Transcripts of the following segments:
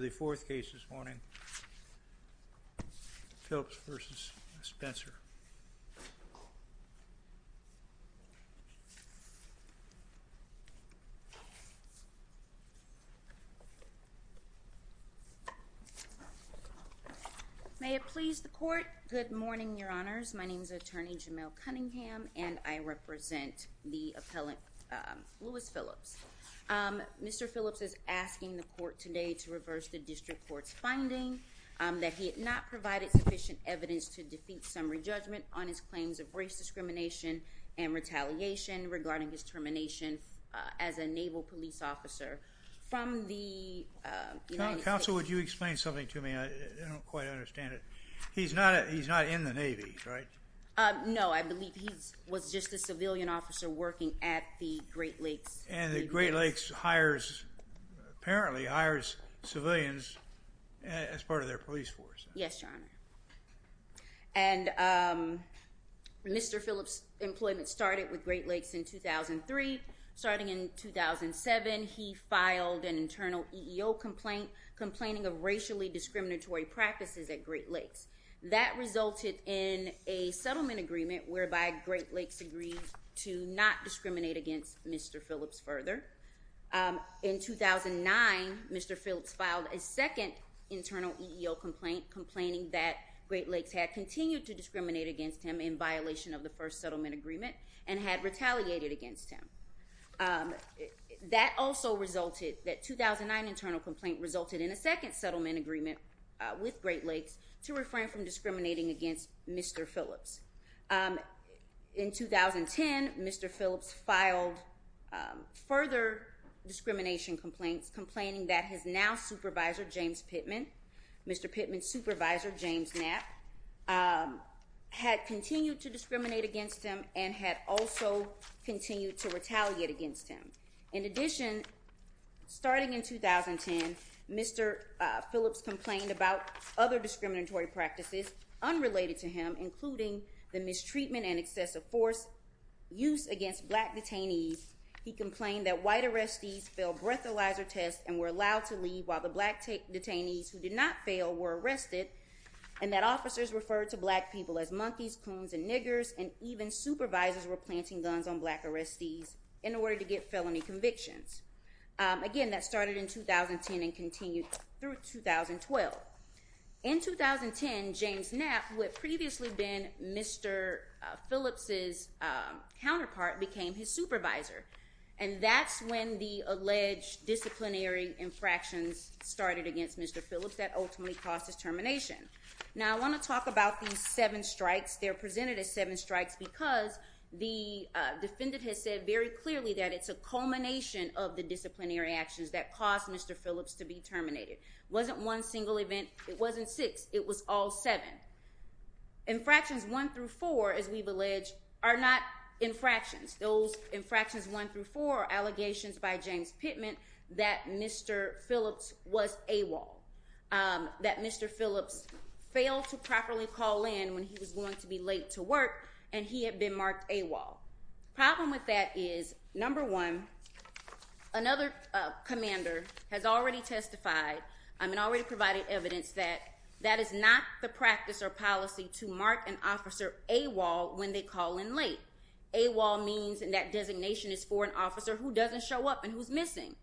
The fourth case this morning, Phillips v. Spencer. May it please the court. Good morning, your honors. My name is attorney Jamil Cunningham and I represent the appellant Louis Phillips. Mr. Phillips is asking the court today to present the district court's finding that he had not provided sufficient evidence to defeat summary judgment on his claims of race discrimination and retaliation regarding his termination as a naval police officer from the United States. Counsel, would you explain something to me? I don't quite understand it. He's not he's not in the Navy, right? No, I believe he was just a civilian officer working at the Great Lakes, hires, apparently hires civilians as part of their police force. Yes, your honor. And Mr. Phillips employment started with Great Lakes in 2003. Starting in 2007, he filed an internal EEO complaint, complaining of racially discriminatory practices at Great Lakes. That resulted in a settlement agreement whereby Great Lakes agreed to not In 2009, Mr. Phillips filed a second internal EEO complaint, complaining that Great Lakes had continued to discriminate against him in violation of the first settlement agreement and had retaliated against him. That also resulted that 2009 internal complaint resulted in a second settlement agreement with Great Lakes to refrain from discriminating against Mr. Phillips. In 2010, Mr. Phillips filed further discrimination complaints, complaining that his now supervisor, James Pittman, Mr. Pittman's supervisor, James Knapp, had continued to discriminate against him and had also continued to retaliate against him. In addition, starting in 2010, Mr. Phillips complained about other discriminatory practices unrelated to him, including the mistreatment and excessive force used against black detainees. He complained that white arrestees failed breathalyzer tests and were allowed to leave while the black detainees, who did not fail, were arrested, and that officers referred to black people as monkeys, coons, and niggers, and even supervisors were planting guns on black arrestees in order to get felony convictions. Again, that started in 2010 and continued through 2012. In 2010, James Knapp, who had previously been Mr. Phillips's counterpart, became his supervisor, and that's when the alleged disciplinary infractions started against Mr. Phillips that ultimately caused his termination. Now, I want to talk about these seven strikes. They're presented as seven strikes because the defendant has said very clearly that it's a culmination of the disciplinary actions that caused Mr. Phillips to be terminated. It wasn't one single event. It wasn't six. It was all seven. Infractions one through four, as we've alleged, are not infractions. Those infractions one through four are allegations by James Pittman that Mr. Phillips was AWOL, that Mr. Phillips failed to properly call in when he was going to be late to work, and he had been marked AWOL. The problem with that is, number one, another commander has already testified, I mean, already provided evidence that that is not the practice or policy to mark an officer AWOL when they call in late. AWOL means that designation is for an officer who doesn't show up and who's missing.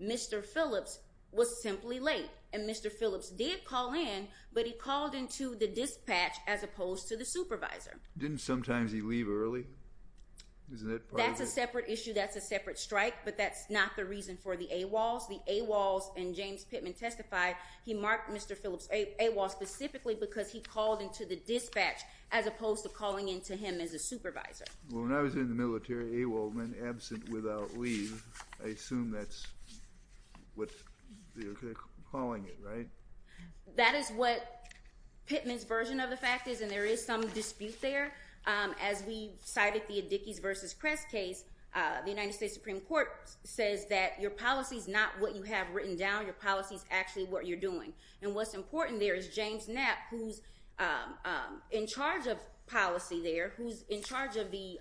Mr. Phillips was simply late, and Mr. Phillips did call in, but he called into the dispatch as opposed to the supervisor. Didn't sometimes he leave early? Isn't that part of it? That's a separate issue. That's a separate strike, but that's not the reason for the AWOLs. The AWOLs, and James Pittman testified, he marked Mr. Phillips AWOL specifically because he called into the dispatch as opposed to calling into him as a supervisor. Well, when I was in the military, AWOL meant absent without leave. I assume that's what they're calling it, right? That is what Pittman's version of the fact is, and there is some dispute there. As we cited the Addickies versus Crest case, the United States Supreme Court says that your policy's not what you have written down, your policy's actually what you're doing. And what's important there is James Knapp, who's in charge of policy there, who's in charge of the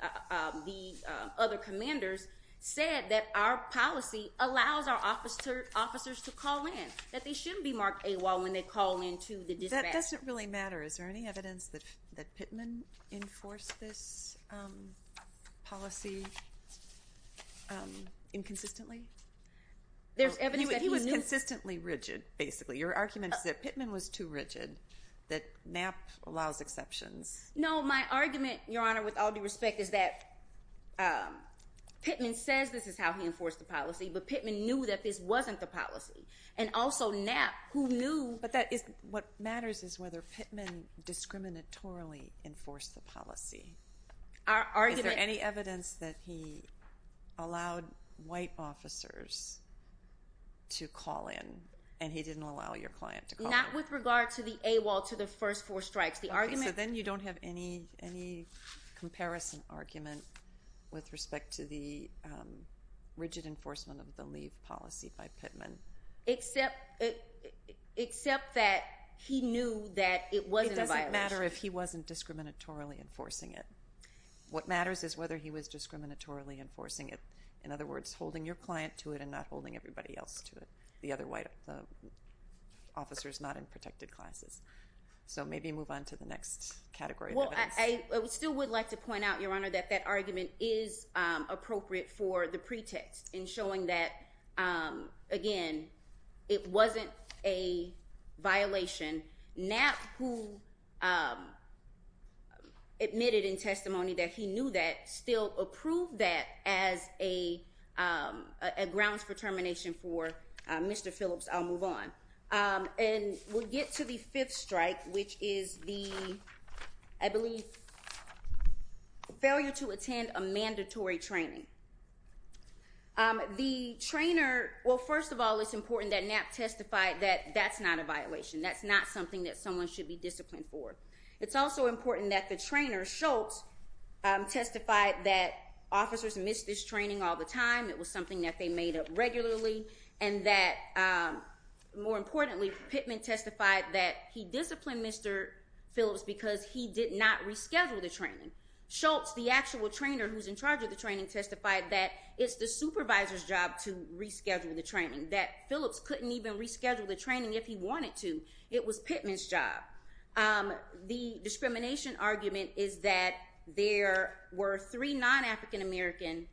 other commanders, is said that our policy allows our officers to call in, that they shouldn't be marked AWOL when they call into the dispatch. That doesn't really matter. Is there any evidence that Pittman enforced this policy inconsistently? He was consistently rigid, basically. Your argument is that Pittman was too rigid, that Knapp allows exceptions. No, my argument, Your Honor, with all due respect, is that Pittman says this is how he enforced the policy, but Pittman knew that this wasn't the policy. And also Knapp, who knew... But what matters is whether Pittman discriminatorily enforced the policy. Is there any evidence that he allowed white officers to call in and he didn't allow your client to call in? Not with regard to the AWOL to the first four strikes. So then you don't have any comparison argument with respect to the rigid enforcement of the leave policy by Pittman. Except that he knew that it wasn't a violation. It doesn't matter if he wasn't discriminatorily enforcing it. What matters is whether he was discriminatorily enforcing it. In other words, holding your client to it and not holding everybody else to it. The other officers not in protected classes. So maybe move on to the next category of evidence. Well, I still would like to point out, Your Honor, that that argument is appropriate for the pretext in showing that, again, it wasn't a violation. Knapp, who admitted in testimony that he knew that, still approved that as a grounds for termination for Mr. Phillips. I'll move on. And we'll get to the fifth strike, which is the, I believe, failure to attend a mandatory training. The trainer, well, first of all, it's important that Knapp testified that that's not a violation. That's not something that someone should be disciplined for. It's also important that the trainer, Schultz, testified that officers missed this training all the time. It was something that they made up regularly. And that, more importantly, Pittman testified that he disciplined Mr. Phillips because he did not reschedule the training. Schultz, the actual trainer who's in charge of the training, testified that it's the supervisor's job to reschedule the training. That Phillips couldn't even reschedule the training if he wanted to. It was Pittman's job. The discrimination argument is that there were three non-African American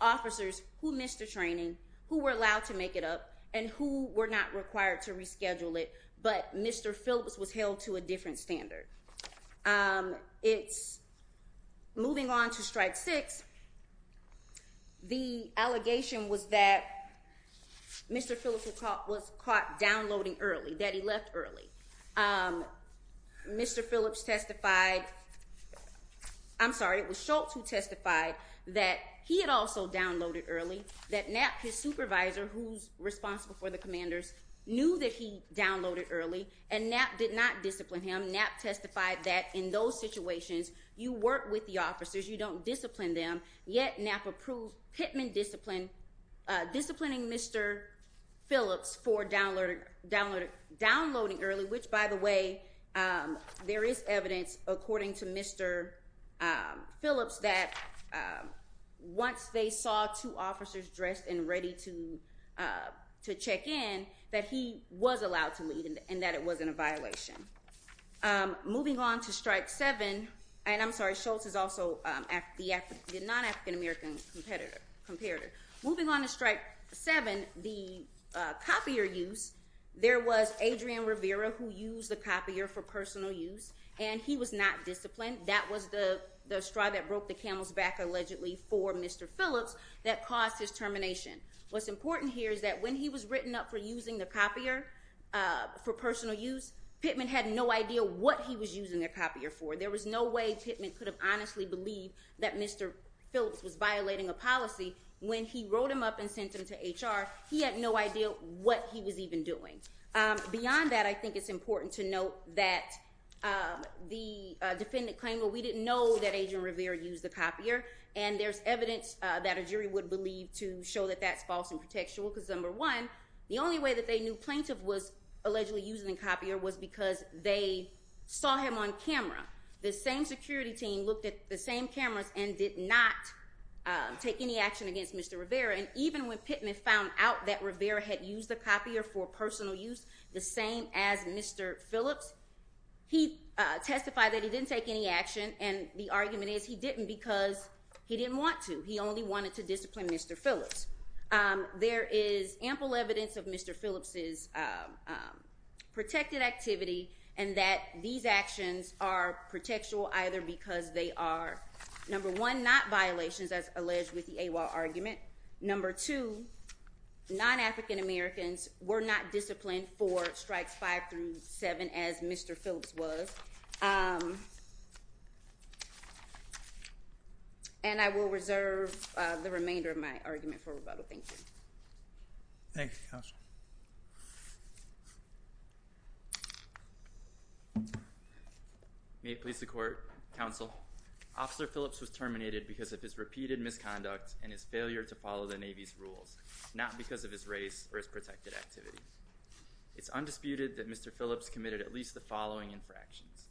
officers who missed the training, who were allowed to make it up, and who were not required to reschedule it, but Mr. Phillips was held to a different standard. It's, moving on to strike six, the allegation was that Mr. Phillips was caught downloading early, that he left early. Mr. Phillips testified, I'm sorry, it was Schultz who testified that he had also that NAP, his supervisor who's responsible for the commanders, knew that he downloaded early, and NAP did not discipline him. NAP testified that in those situations, you work with the officers, you don't discipline them, yet NAP approved Pittman disciplining Mr. Phillips for downloading early, which, by the way, there is evidence, according to Mr. Phillips, that once they saw two officers dressed and ready to check in, that he was allowed to leave, and that it wasn't a violation. Moving on to strike seven, and I'm sorry, Schultz is also the non-African American competitor. Moving on to strike seven, the copier use, there was Adrian Rivera who used the copier for personal use, and he was not disciplined. That was the straw that broke the camel's back, allegedly, for Mr. Phillips, that caused his termination. What's important here is that when he was written up for using the copier for personal use, Pittman had no idea what he was using the copier for. There was no way Pittman could have honestly believed that Mr. Phillips was violating a policy when he wrote him up and sent him to HR. He had no idea what he was even doing. Beyond that, I think it's important to note that the defendant claimed, well, we didn't know that Adrian Rivera used the copier, and there's evidence that a jury would believe to show that that's false and protectual, because number one, the only way that they knew plaintiff was allegedly using the copier was because they saw him on camera. The same security team looked at the same cameras and did not take any action against Mr. Rivera, and even when Mr. Phillips testified that he didn't take any action, and the argument is he didn't because he didn't want to. He only wanted to discipline Mr. Phillips. There is ample evidence of Mr. Phillips' protected activity and that these actions are protectual either because they are, number one, not violations as alleged with the AWOL argument. Number two, non-African Americans were not disciplined for strikes five through seven as Mr. Phillips was. And I will reserve the remainder of my argument for rebuttal. Thank you. Thank you, Counsel. May it please the Court, Counsel, Officer Phillips was terminated because of his repeated misconduct and his failure to follow the Navy's rules, not because of his race or his protected activity. It's undisputed that Mr. Phillips committed at least the following infractions.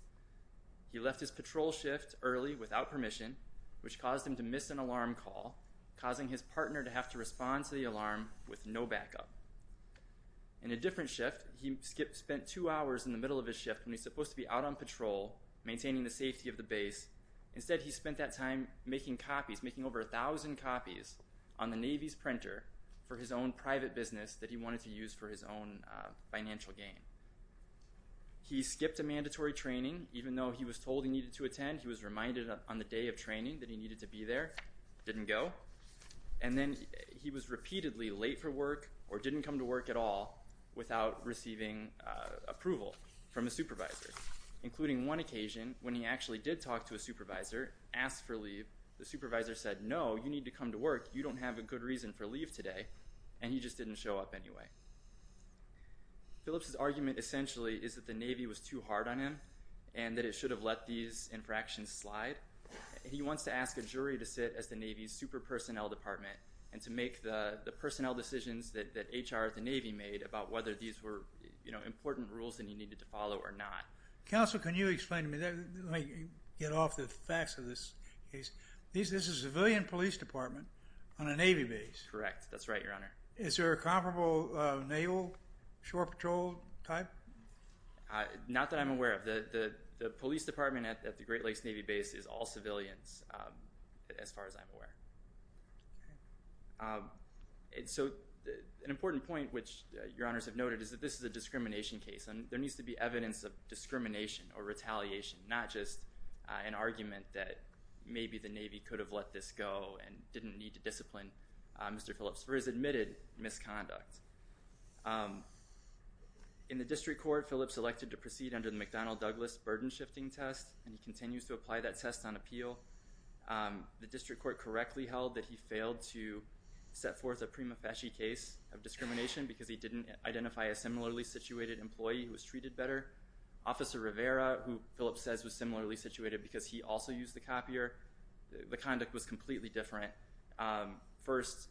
He left his patrol shift early without permission, which caused him to miss an alarm call, causing his partner to have to respond to the alarm with no backup. In a different shift, he spent two hours in the middle of his shift when he's supposed to be out on patrol, maintaining the safety of the base. Instead, he spent that time making copies, making over 1,000 copies on the Navy's printer for his own private business that he wanted to use for his own financial gain. He skipped a mandatory training even though he was told he needed to attend. He was reminded on the day of training that he needed to be there, didn't go. And then he was repeatedly late for work or didn't come to work at all without receiving approval from a supervisor, including one occasion when he actually did talk to a supervisor, asked for leave. The supervisor said, no, you need to come to work. You don't have a good reason for leave today. And he just didn't show up anyway. Phillips's argument essentially is that the Navy was too hard on him and that it should have let these infractions slide. He wants to ask a jury to sit as the Navy's super personnel department and to make the personnel decisions that HR at the Navy made about whether these were important rules that he needed to follow or not. Counsel, can you explain to me, let me get off the facts of this case. This is a civilian police department on a Navy base. Correct. That's right, Your Honor. Is there a comparable naval shore patrol type? Not that I'm aware of. The police department at the Great Lakes Navy base is all civilians as far as I'm aware. So an important point, which Your Honors have noted, is that this is a discrimination case and there needs to be evidence of discrimination or retaliation, not just an argument that maybe the Navy could have let this go and didn't need to discipline Mr. Phillips for his admitted misconduct. In the district court, Phillips elected to proceed under the McDonnell Douglas burden shifting test and he continues to apply that test on appeal. The district court correctly held that he failed to set forth a prima facie case of discrimination because he didn't identify a similarly situated employee who was treated better. Officer Rivera, who Phillips says was similarly situated because he also used the copier, the conduct was completely different. First,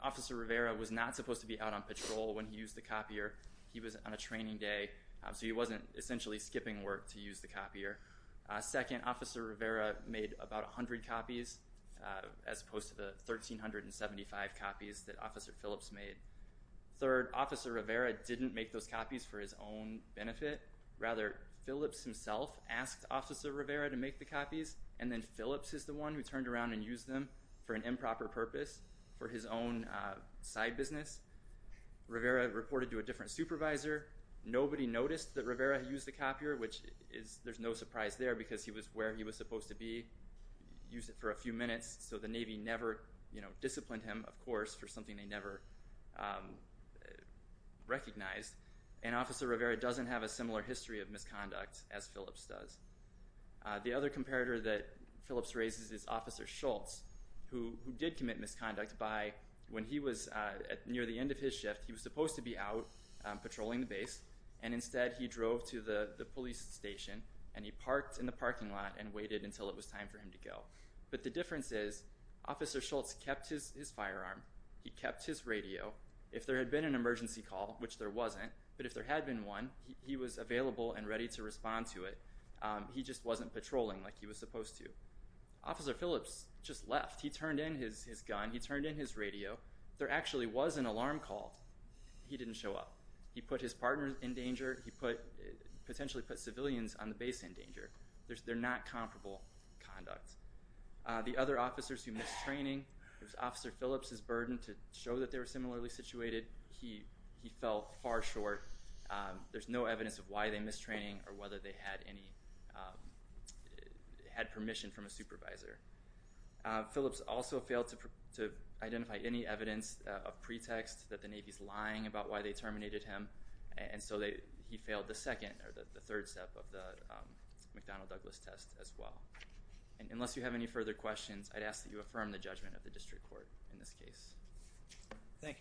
Officer Rivera was not supposed to be out on patrol when he used the copier. He was on a training day, so he wasn't essentially skipping work to use the copier. Second, Officer Rivera made about 100 copies as opposed to the 1,375 copies that Officer Phillips made. Third, Officer Rivera didn't make those copies for his own benefit. Rather, Phillips himself asked Officer Rivera to make the copies and then Phillips is the one who turned around and used them for an improper purpose for his own side business. Rivera reported to a different supervisor. Nobody noticed that Rivera used the copier, which there's no surprise there because he was where he was supposed to be, used it for a few minutes so the Navy never disciplined him, of course, for something they never recognized, and Officer Rivera doesn't have a similar history of misconduct as Phillips does. The other comparator that Phillips raises is Officer Schultz, who did commit misconduct by, when he was near the end of his shift, he was supposed to be out patrolling the base and instead he drove to the police station and he parked in the parking lot and waited until it was time for him to go. But the difference is Officer Schultz kept his firearm, he kept his radio. If there had been an emergency call, which there wasn't, but if there had been one, he was available and ready to respond to it. He just wasn't patrolling like he was supposed to. Officer Phillips just left. He turned in his gun, he turned in his radio. There actually was an alarm call. He didn't show up. He put his gun down. Not comparable conduct. The other officers who missed training, it was Officer Phillips' burden to show that they were similarly situated. He fell far short. There's no evidence of why they missed training or whether they had permission from a supervisor. Phillips also failed to identify any evidence of pretext that the Navy's lying about why they terminated him and so he failed the second or the third step of the McDonnell-Douglas test as well. Unless you have any further questions, I'd ask that you affirm the judgment of the District Court in this case. Thank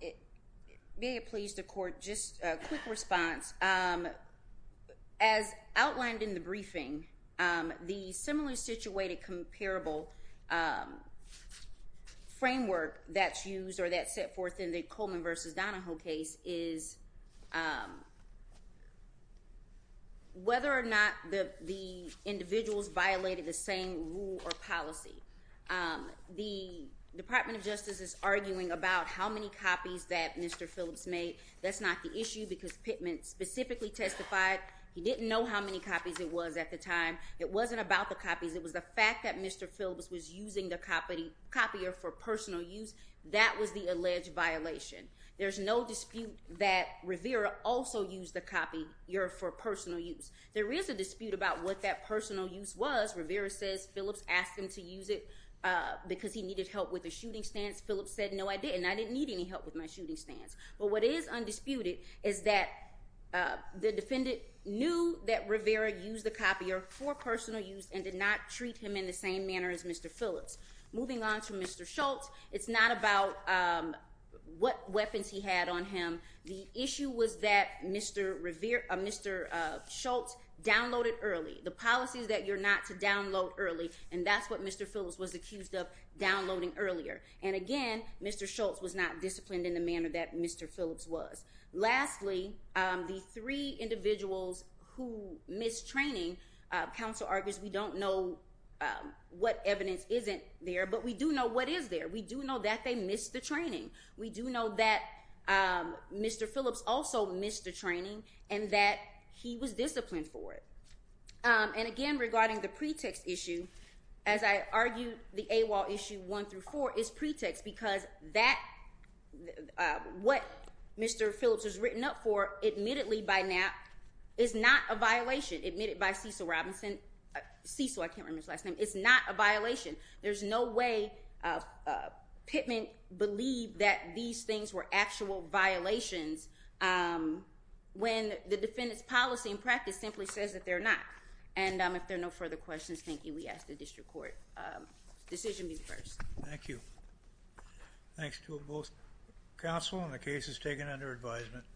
you. May it please the Court, just a quick response. As outlined in the briefing, the similarly situated comparable framework that's used or that's set forth in the Coleman v. Donahoe case is whether or not the individuals violated the same rule or policy. The Department of Justice is arguing about how many copies that Mr. Phillips made. That's not the issue because Pittman specifically testified he didn't know how many copies it was at the time. It wasn't about the copies. It was the fact that Mr. Phillips was using the copier for personal use. That was the alleged violation. There's no dispute that Rivera also used the copier for personal use. There is a dispute about what that personal use was. Rivera says Phillips asked him to use it because he needed help with the shooting stance. Phillips said no I didn't. I didn't need any help with my shooting stance. But what is undisputed is that the defendant knew that Rivera used the copier for personal use and did not treat him in the same manner as Mr. Phillips. Moving on to Mr. Schultz, it's not about what weapons he had on him. The issue was that Mr. Schultz downloaded early. The policy is that you're not to download early. And that's what Mr. Phillips was accused of downloading earlier. And again, Mr. Schultz was not disciplined in the manner that Mr. Phillips was. Lastly, the three individuals who missed training, counsel argues we don't know what evidence isn't there, but we do know what is there. We do know that they missed the training. We do know that Mr. Phillips also missed the training and that he was disciplined for it. And again, regarding the pretext issue, as I argued the AWOL issue one through four is pretext because that, what Mr. Phillips was written up for, admittedly by Knapp, is not a violation, admitted by Cecil Robinson. Cecil, I can't remember his last name. It's not a violation. There's no way Pittman believed that these things were actual violations when the defendant's policy and practice simply says that they're not. And if there are no further questions, thank you. We ask the District Court decision be the first. Thank you. Thanks to both counsel and the cases taken under advisement.